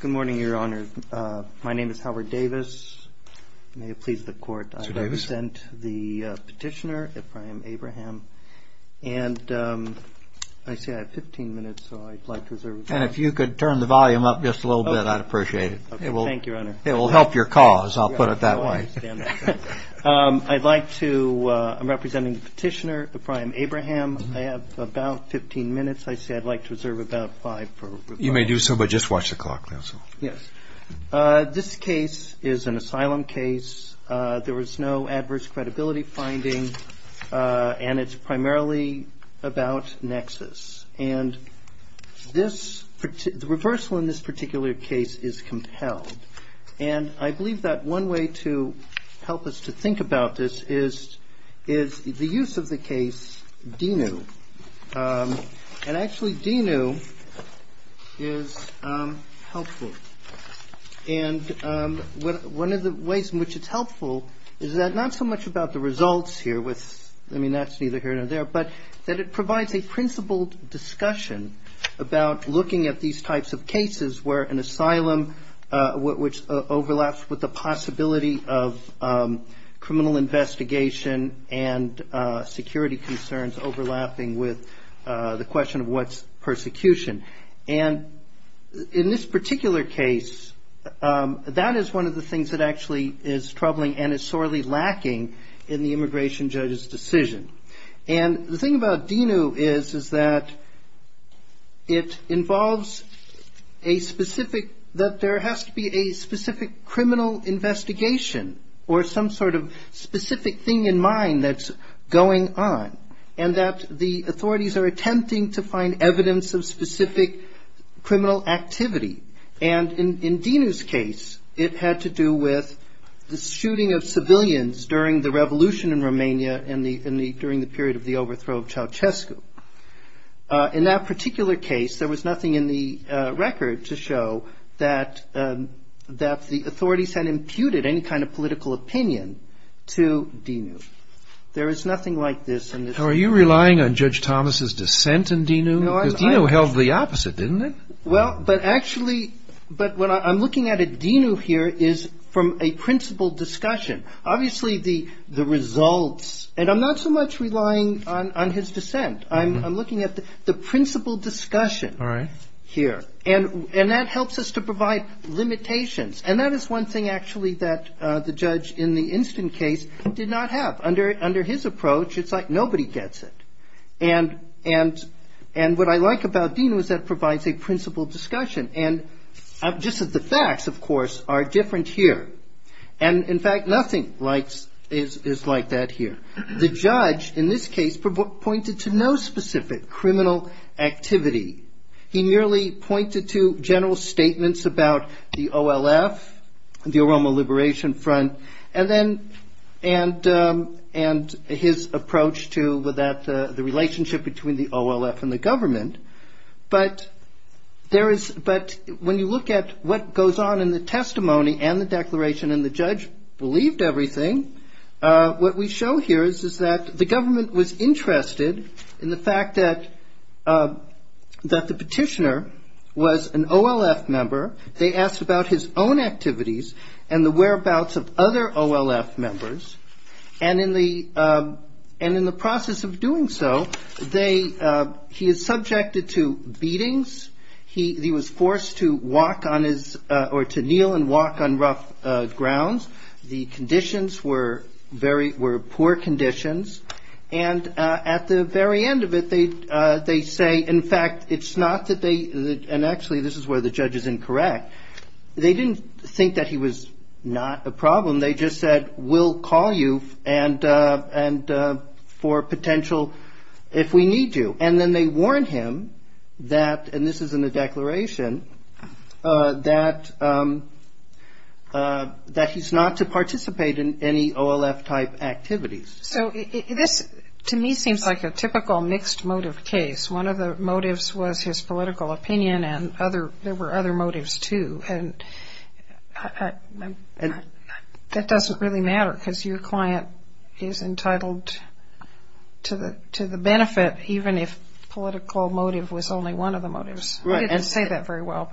Good morning, Your Honor. My name is Howard Davis. May it please the Court, I present the petitioner, Ephraim Abraham. And I see I have 15 minutes, so I'd like to reserve it. And if you could turn the volume up just a little bit, I'd appreciate it. Thank you, Your Honor. It will help your cause, I'll put it that way. I'd like to, I'm representing the petitioner, Ephraim Abraham. I have about 15 minutes. I see I'd like to reserve about five for reversal. You may do so, but just watch the clock, counsel. Yes. This case is an asylum case. There was no adverse credibility finding, and it's primarily about nexus. And the reversal in this particular case is compelled. And I believe that one way to help us to think about this is the use of the case, DENU. And actually, DENU is helpful. And one of the ways in which it's helpful is that not so much about the results here with, I mean, that's neither here nor there, but that it provides a principled discussion about looking at these types of cases where an asylum, which overlaps with the possibility of criminal investigation and security concerns overlapping with the question of what's persecution. And in this particular case, that is one of the things that actually is troubling and sorely lacking in the immigration judge's decision. And the thing about DENU is that it involves a specific, that there has to be a specific criminal investigation or some sort of specific thing in mind that's going on, and that the authorities are attempting to find evidence of specific criminal activity. And in DENU's case, it had to do with the civilians during the revolution in Romania during the period of the overthrow of Ceausescu. In that particular case, there was nothing in the record to show that the authorities had imputed any kind of political opinion to DENU. There is nothing like this in this particular case. Are you relying on Judge Thomas' dissent in DENU? Because DENU held the opposite, didn't it? Well, but actually, but what I'm looking at at DENU here is from a principled discussion. Obviously, the results, and I'm not so much relying on his dissent. I'm looking at the principled discussion here. And that helps us to provide limitations. And that is one thing, actually, that the judge in the instant case did not have. Under his approach, it's like nobody gets it. And what I like about DENU is that it provides a principled discussion. And just as the facts, of course, are different here. And in fact, nothing is like that here. The judge, in this case, pointed to no specific criminal activity. He merely pointed to general the relationship between the OLF and the government. But when you look at what goes on in the testimony and the declaration, and the judge believed everything, what we show here is that the government was interested in the fact that the petitioner was an OLF member. They asked about his own activities and the whereabouts of other OLF members. And in the process of doing so, he is subjected to beatings. He was forced to kneel and walk on rough grounds. The conditions were poor conditions. And at the very end of it, they say, in fact, it's where the judge is incorrect. They didn't think that he was not a problem. They just said, we'll call you for potential, if we need you. And then they warned him that, and this is in the declaration, that he's not to participate in any OLF type activities. So this, to me, seems like a typical mixed motive case. One of the motives was his political opinion, and there were other motives, too. That doesn't really matter, because your client is entitled to the benefit, even if the political motive was only one of the motives. I didn't say that very well.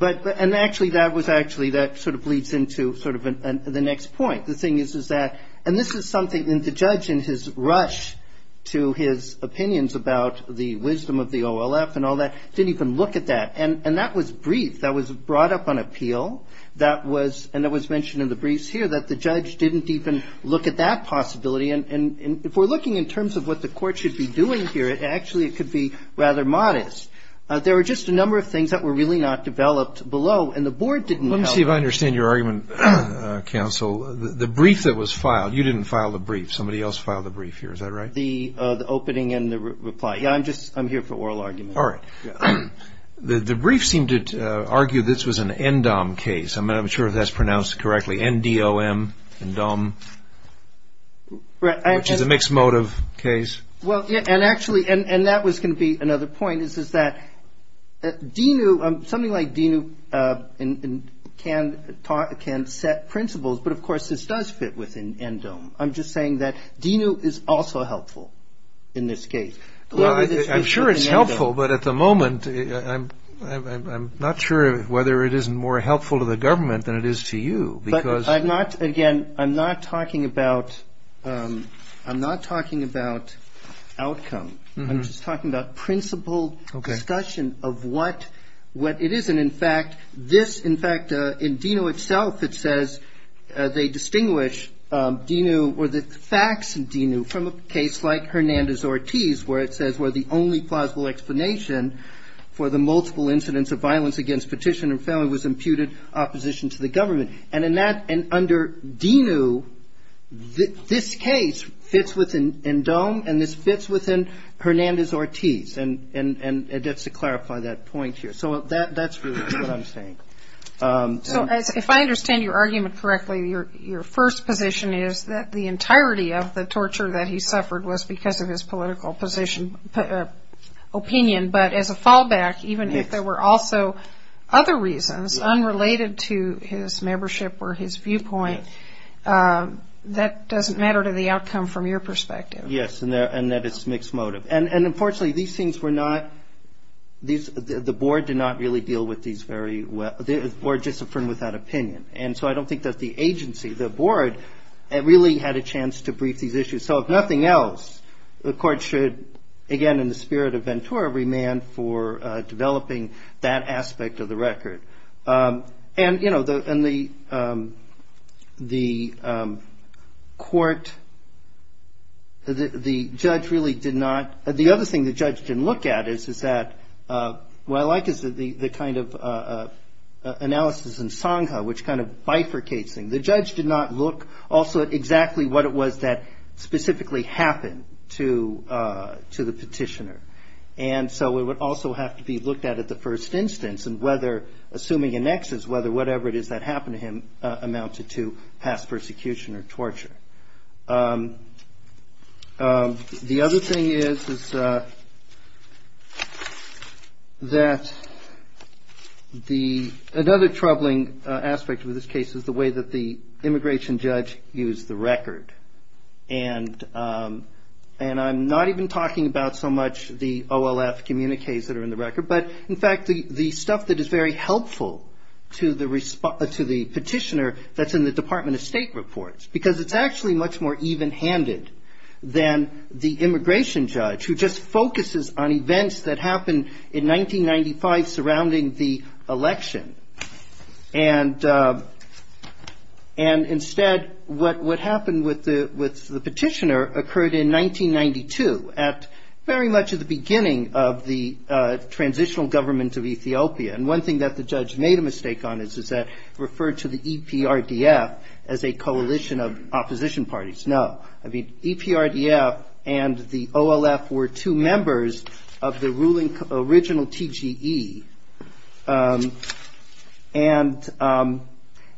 But, and actually, that was actually, that sort of leads into sort of the next point. The thing is, is that, and this is something that the judge, in his rush to his opinions about the wisdom of the OLF and all that, didn't even look at that. And that was brief. That was brought up on appeal. That was, and it was mentioned in the briefs here, that the judge didn't even look at that possibility. And if we're looking in terms of what the court should be doing here, actually, it could be rather modest. There were just a number of things that were really not developed below, and the board didn't help. Let me see if I understand your argument, counsel. The brief that was filed, you didn't file the brief. Somebody else filed the brief here. Is that right? The opening and the reply. Yeah, I'm just, I'm here for oral argument. All right. The brief seemed to argue this was an NDOM case. I'm not even sure if that's pronounced correctly. N-D-O-M, N-DOM, which is a mixed motive case. Well, and actually, and that was going to be another point, is that DENU, something like DENU can talk, can set principles. But of course, this does fit within NDOM. I'm sure it's helpful, but at the moment, I'm not sure whether it is more helpful to the government than it is to you. But I'm not, again, I'm not talking about, I'm not talking about outcome. I'm just talking about principle discussion of what, what it is. And in fact, this, in fact, in DENU itself, it says they distinguish DENU or the facts in DENU from a case like Hernandez-Ortiz, where it says where the only plausible explanation for the multiple incidents of violence against petitioner family was imputed opposition to the government. And in that, and under DENU, this case fits within NDOM, and this fits within Hernandez-Ortiz. And, and, and that's to clarify that point here. So that, that's really what I'm saying. So if I understand your argument correctly, your, your first position is that the torture that he suffered was because of his political position, opinion. But as a fallback, even if there were also other reasons unrelated to his membership or his viewpoint, that doesn't matter to the outcome from your perspective. Yes. And that, and that it's mixed motive. And, and unfortunately, these things were not, these, the, the board did not really deal with these very well. The board just affirmed without opinion. And so I don't think that the agency, the So if nothing else, the court should, again, in the spirit of Ventura, remand for developing that aspect of the record. And, you know, the, and the, the court, the, the judge really did not, the other thing the judge didn't look at is, is that, what I like is the, the kind of analysis in Songha, which kind of bifurcates things. The judge did not look also at exactly what it was that specifically happened to to the petitioner. And so it would also have to be looked at, at the first instance, and whether, assuming annexes, whether whatever it is that happened to him amounted to past persecution or torture. The other thing is, is that the, another troubling aspect of this case is the way that the immigration judge used the record. And and I'm not even talking about so much the OLF communiques that are in the record. But, in fact, the, the stuff that is very helpful to the respond, to the petitioner that's in the Department of State reports. Because it's actually much more even-handed than the immigration judge, who just focuses on events that happened in 1995 surrounding the election. And and instead, what, what happened with the, with the petitioner occurred in 1992, at very much at the beginning of the transitional government of Ethiopia. And one thing that the judge made a mistake on is, is that referred to the EPRDF as a coalition of opposition parties. No. I mean, EPRDF and the OLF were two members of the ruling original TGE. And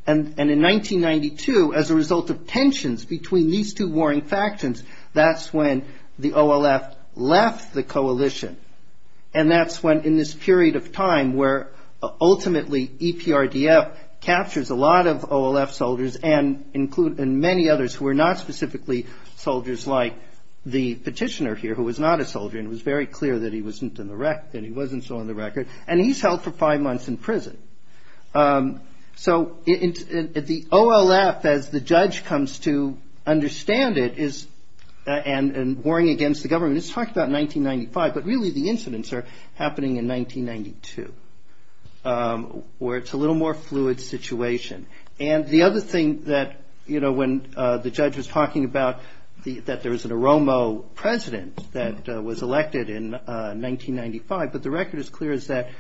and, and in 1992, as a result of tensions between these two warring factions, that's when the OLF left the coalition. And that's when, in this period of time, where ultimately EPRDF captures a lot of OLF soldiers and include, and many others who are not specifically soldiers like the petitioner here, who was not a soldier. And it was very clear that he wasn't in the rec, that he wasn't still on the record. And he's held for five months in prison. So it, it, the OLF, as the judge comes to understand it, is, and, and warring against the government, it's talked about in 1995. But really, the incidents are happening in 1992, where it's a little more fluid situation. And the other thing that, you know, when the judge was talking about the, that there was an Oromo president that was elected in 1995, but the record is clear is that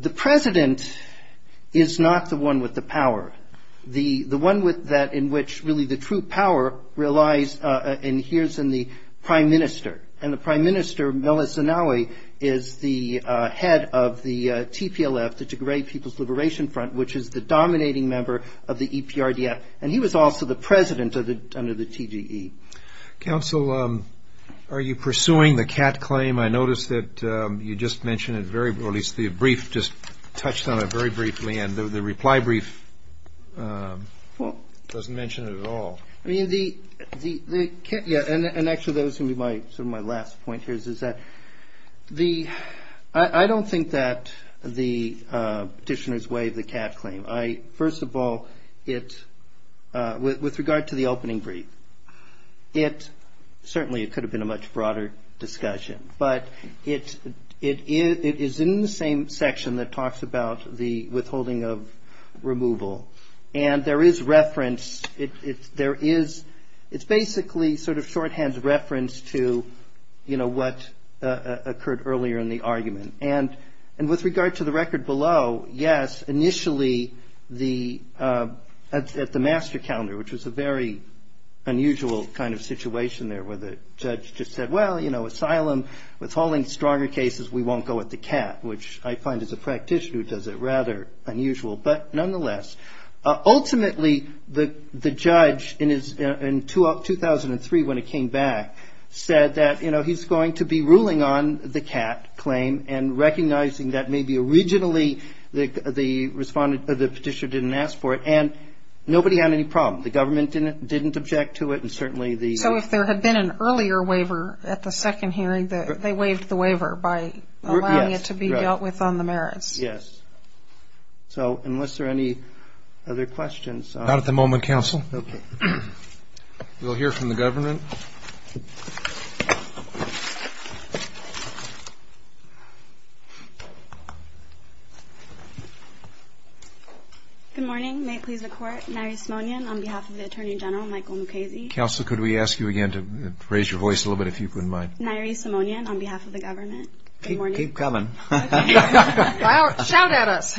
the president is not the one with the power. The, the one with that, in which really the true power relies, and here's in the prime minister. And the prime minister, Melissa Nowey, is the head of the TPLF, the Tigray People's Liberation Front, which is the dominating member of the EPRDF. And he was also the president of the, under the TGE. Counsel, are you pursuing the cat claim? I noticed that you just mentioned it very, or at least the brief just touched on it very briefly, and the reply brief doesn't mention it at all. I mean, the, the, the, yeah, and actually that was going to be my, sort of my last point here, is, is that the, I don't think that the petitioners waive the cat claim. I, first of all, it, with, with regard to the opening brief, it, certainly it could have been a much broader discussion, but it, it is, it is in the same section that talks about the withholding of removal. And there is reference, it, it's, there is, it's basically sort of shorthand reference to, you know, what occurred earlier in the argument. And, and with regard to the record below, yes, initially the, at, at the master calendar, which was a very unusual kind of situation there, where the judge just said, well, you know, asylum, withholding stronger cases, we won't go with the cat, which I find as a practitioner does it rather unusual. But nonetheless, ultimately the, the judge in his, in 2003, when it came back, said that, you know, he's going to be ruling on the cat claim and recognizing that maybe originally the, the respondent, the petitioner didn't ask for it. And nobody had any problem. The government didn't, didn't object to it. And certainly the. So if there had been an earlier waiver at the second hearing, they waived the waiver by allowing it to be dealt with on the merits. Yes. So unless there are any other questions. Not at the moment, counsel. Okay. We'll hear from the government. Good morning. May it please the court. Nairi Simonian on behalf of the attorney general, Michael Mukasey. Counselor, could we ask you again to raise your voice a little bit, if you wouldn't mind. Nairi Simonian on behalf of the government. Keep coming. Shout at us.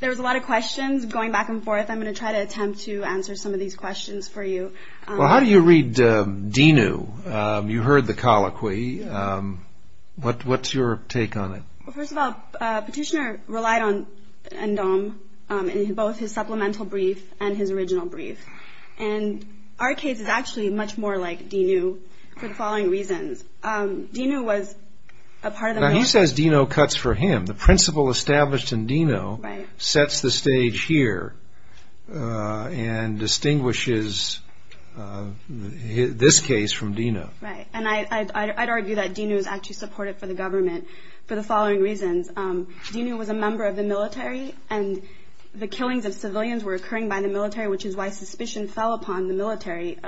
There was a lot of questions going back and forth. I'm going to try to attempt to answer some of these questions for you. Well, how do you read Dinu? You heard the colloquy. What, what's your take on it? Well, first of all, petitioner relied on Ndom in both his supplemental brief and his original brief. And our case is actually much more like Dinu for the following reasons. Dinu was a part of the military. Now, he says Dinu cuts for him. The principle established in Dinu sets the stage here and distinguishes this case from Dinu. Right. And I'd argue that Dinu is actually supportive for the government for the following reasons. Dinu was a member of the military and the killings of civilians were occurring by the military, which is why suspicion fell upon the military.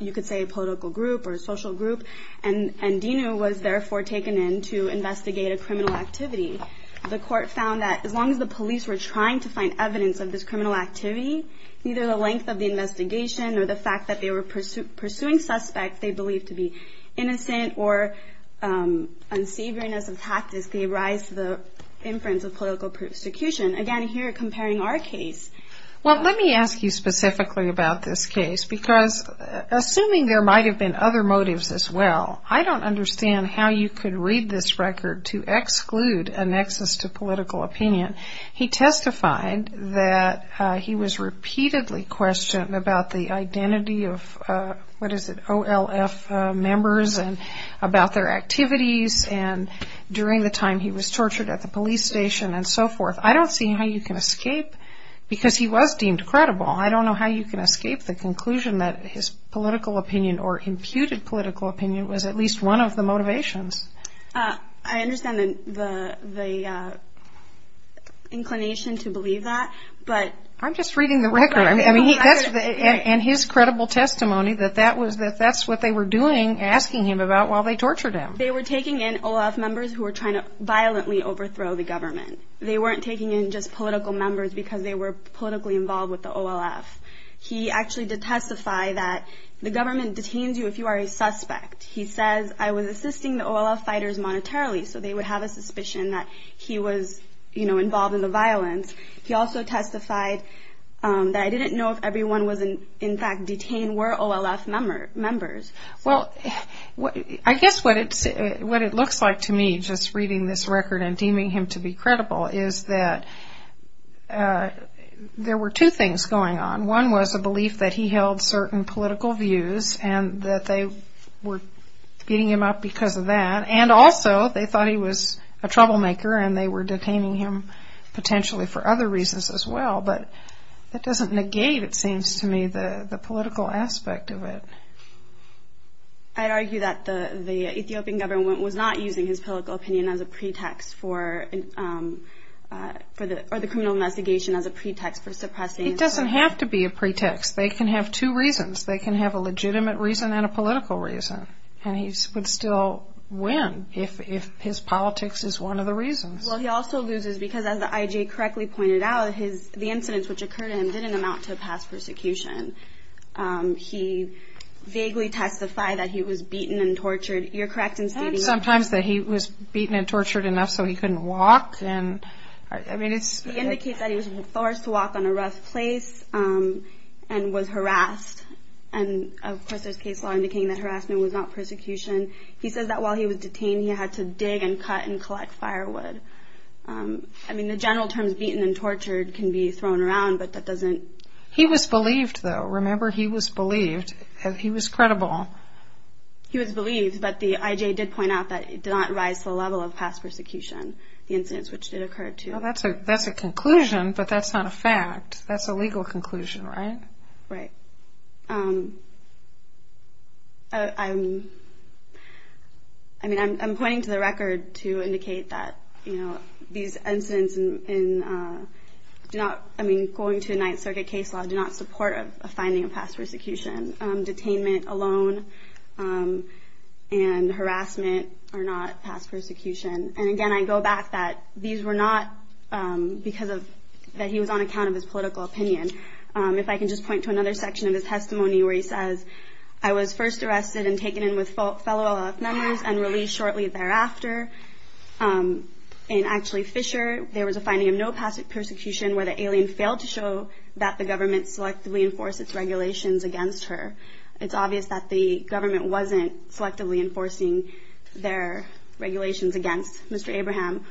You could say a political group or a social group. And Dinu was therefore taken in to investigate a criminal activity. The court found that as long as the police were trying to find evidence of this criminal activity, either the length of the investigation or the fact that they were pursuing suspects they believed to be innocent or unsavoriness of practice, they rise to the inference of political prosecution. Again, here comparing our case. Well, let me ask you specifically about this case because assuming there might have been other motives as well, I don't understand how you could read this record to exclude a nexus to political opinion. He testified that he was repeatedly questioned about the identity of, what is it, OLF members and about their activities and during the time he was tortured at the police station and so forth. I don't see how you can escape because he was deemed credible. I don't know how you can escape the conclusion that his political opinion or imputed political opinion was at least one of the motivations. I understand the inclination to believe that, but. I'm just reading the record. And his credible testimony that that's what they were doing, asking him about while they tortured him. They were taking in OLF members who were trying to violently overthrow the government. They weren't taking in just political members because they were politically involved with the OLF. He actually did testify that the government detains you if you are a suspect. He says, I was assisting the OLF fighters monetarily, so they would have a suspicion that he was involved in the violence. He also testified that I didn't know if everyone was in fact detained were OLF members. Well, I guess what it looks like to me, just reading this record and deeming him to be credible, is that there were two things going on. One was a belief that he held certain political views and that they were beating him up because of that. And also they thought he was a troublemaker and they were detaining him potentially for other reasons as well. But that doesn't negate, it seems to me, the political aspect of it. I'd argue that the Ethiopian government was not using his political opinion as a pretext for the criminal investigation, as a pretext for suppressing. It doesn't have to be a pretext. They can have two reasons. They can have a legitimate reason and a political reason. And he would still win if his politics is one of the reasons. Well, he also loses because, as the IJ correctly pointed out, the incidents which occurred to him didn't amount to a past persecution. He vaguely testified that he was beaten and tortured. You're correct in stating that. And sometimes that he was beaten and tortured enough so he couldn't walk. He indicates that he was forced to walk on a rough place and was harassed. And, of course, there's case law indicating that harassment was not persecution. He says that while he was detained, he had to dig and cut and collect firewood. I mean, the general terms beaten and tortured can be thrown around, but that doesn't. He was believed, though. Remember, he was believed. He was credible. He was believed, but the IJ did point out that it did not rise to the level of past persecution, the incidents which did occur to him. That's a conclusion, but that's not a fact. That's a legal conclusion, right? Right. I mean, I'm pointing to the record to indicate that, you know, these incidents do not, I mean, going to a Ninth Circuit case law, do not support a finding of past persecution. Detainment alone and harassment are not past persecution. And, again, I go back that these were not because he was on account of his political opinion. If I can just point to another section of his testimony where he says, I was first arrested and taken in with fellow OLF members and released shortly thereafter. In actually Fisher, there was a finding of no past persecution where the alien failed to show that the government selectively enforced its regulations against her. It's obvious that the government wasn't selectively enforcing their regulations against Mr. Abraham.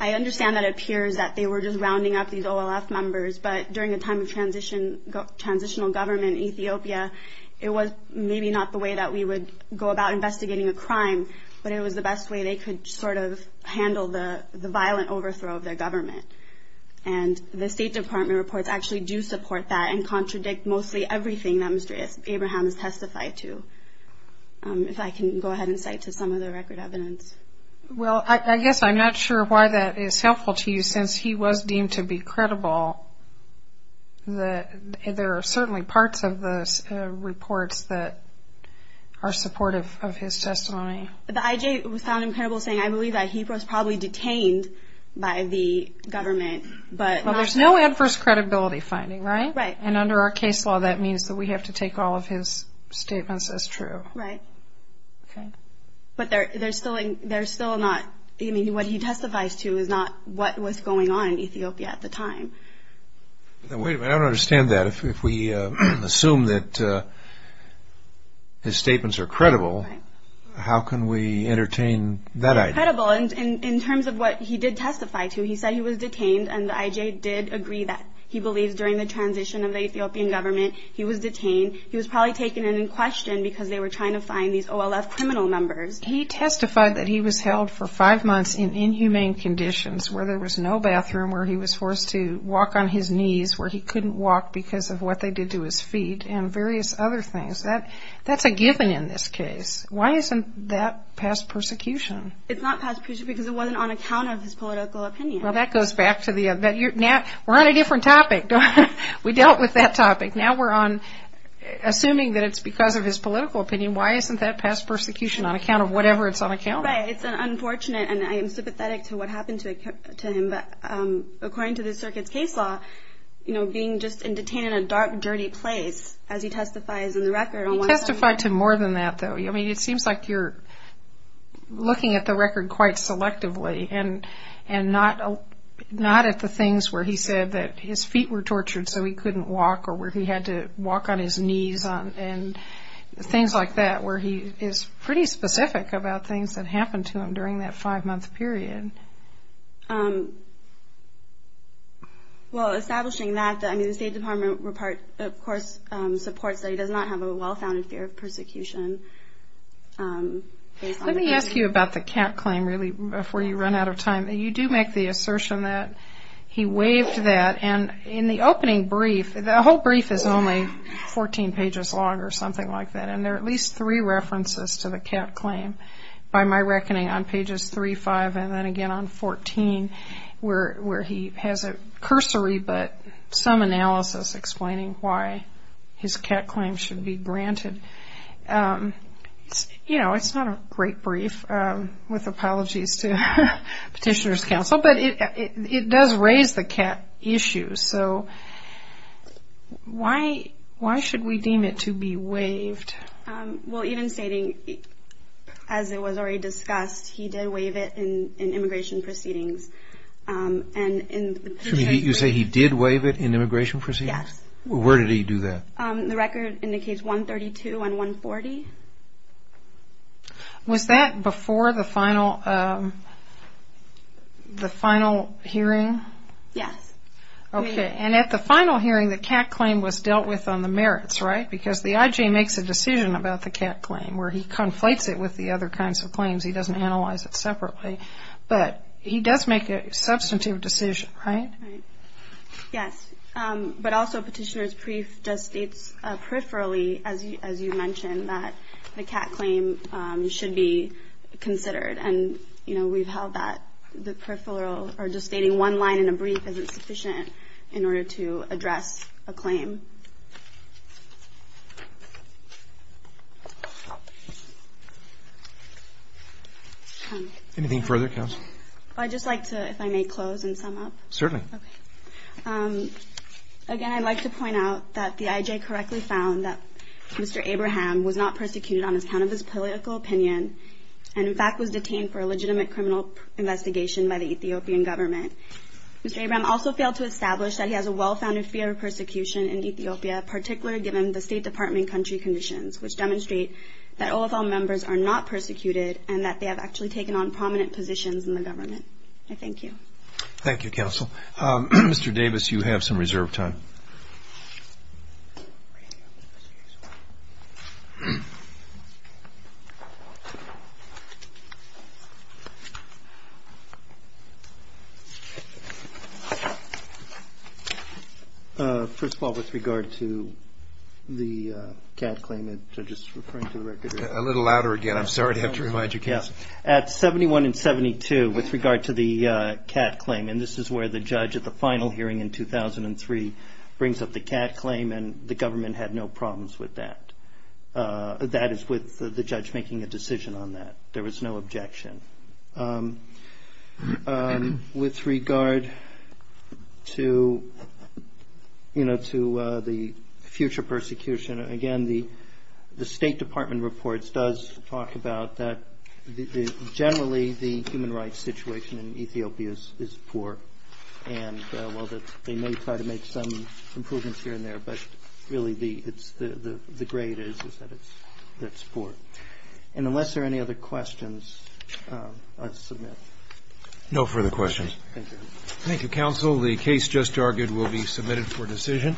I understand that it appears that they were just rounding up these OLF members, but during a time of transitional government in Ethiopia, it was maybe not the way that we would go about investigating a crime, but it was the best way they could sort of handle the violent overthrow of their government. And the State Department reports actually do support that and contradict mostly everything that Mr. Abraham has testified to. If I can go ahead and cite to some of the record evidence. Well, I guess I'm not sure why that is helpful to you since he was deemed to be credible. There are certainly parts of the reports that are supportive of his testimony. The IJ found him credible saying, I believe that he was probably detained by the government. But there's no adverse credibility finding, right? Right. And under our case law, that means that we have to take all of his statements as true. Right. Okay. But they're still not, I mean, what he testifies to is not what was going on in Ethiopia at the time. Now, wait a minute. I don't understand that. If we assume that his statements are credible, how can we entertain that idea? Credible in terms of what he did testify to. He said he was detained and the IJ did agree that he believes during the transition of the Ethiopian government, he was detained. He was probably taken and in question because they were trying to find these OLF criminal members. He testified that he was held for five months in inhumane conditions where there was no bathroom, where he was forced to walk on his knees, where he couldn't walk because of what they did to his feet, and various other things. That's a given in this case. Why isn't that past persecution? It's not past persecution because it wasn't on account of his political opinion. Well, that goes back to the other. We're on a different topic. We dealt with that topic. Now we're on assuming that it's because of his political opinion. Why isn't that past persecution on account of whatever it's on account of? Right. It's unfortunate, and I am sympathetic to what happened to him. But according to the circuit's case law, you know, being just detained in a dark, dirty place as he testifies in the record. He testified to more than that, though. I mean, it seems like you're looking at the record quite selectively and not at the things where he said that his feet were tortured so he couldn't walk or where he had to walk on his knees and things like that, where he is pretty specific about things that happened to him during that five-month period. Well, establishing that, I mean, the State Department, of course, supports that he does not have a well-founded fear of persecution. Let me ask you about the cat claim, really, before you run out of time. You do make the assertion that he waived that, and in the opening brief, the whole brief is only 14 pages long or something like that, and there are at least three references to the cat claim, by my reckoning, on pages 3, 5, and then again on 14, where he has a cursory but some analysis explaining why his cat claim should be granted. You know, it's not a great brief, with apologies to Petitioner's Council, but it does raise the cat issue, so why should we deem it to be waived? Well, even stating, as it was already discussed, he did waive it in immigration proceedings. You say he did waive it in immigration proceedings? Yes. Where did he do that? The record indicates 132 and 140. Was that before the final hearing? Yes. Okay, and at the final hearing, the cat claim was dealt with on the merits, right? Because the IJ makes a decision about the cat claim, where he conflates it with the other kinds of claims. He doesn't analyze it separately. But he does make a substantive decision, right? Right. Yes, but also Petitioner's brief just states peripherally, as you mentioned, that the cat claim should be considered. And, you know, we've held that the peripheral, or just stating one line in a brief isn't sufficient in order to address a claim. Thank you. Anything further, Counsel? I'd just like to, if I may, close and sum up. Certainly. Okay. Again, I'd like to point out that the IJ correctly found that Mr. Abraham was not persecuted on account of his political opinion and, in fact, was detained for a legitimate criminal investigation by the Ethiopian government. Mr. Abraham also failed to establish that he has a well-founded fear of persecution in Ethiopia, particularly given the State Department country conditions, which demonstrate that OFL members are not persecuted and that they have actually taken on prominent positions in the government. I thank you. Thank you, Counsel. Counsel, Mr. Davis, you have some reserve time. First of all, with regard to the cat claim, just referring to the record. A little louder again. I'm sorry to have to remind you, Counsel. At 71 and 72, with regard to the cat claim, and this is where the judge at the final hearing in 2003 brings up the cat claim and the government had no problems with that. That is with the judge making a decision on that. There was no objection. With regard to, you know, to the future persecution, again, the State Department reports does talk about that generally the human rights situation in Ethiopia is poor. And while they may try to make some improvements here and there, but really the grade is that it's poor. And unless there are any other questions, I'll submit. No further questions. Thank you. Thank you, Counsel. The case just argued will be submitted for decision.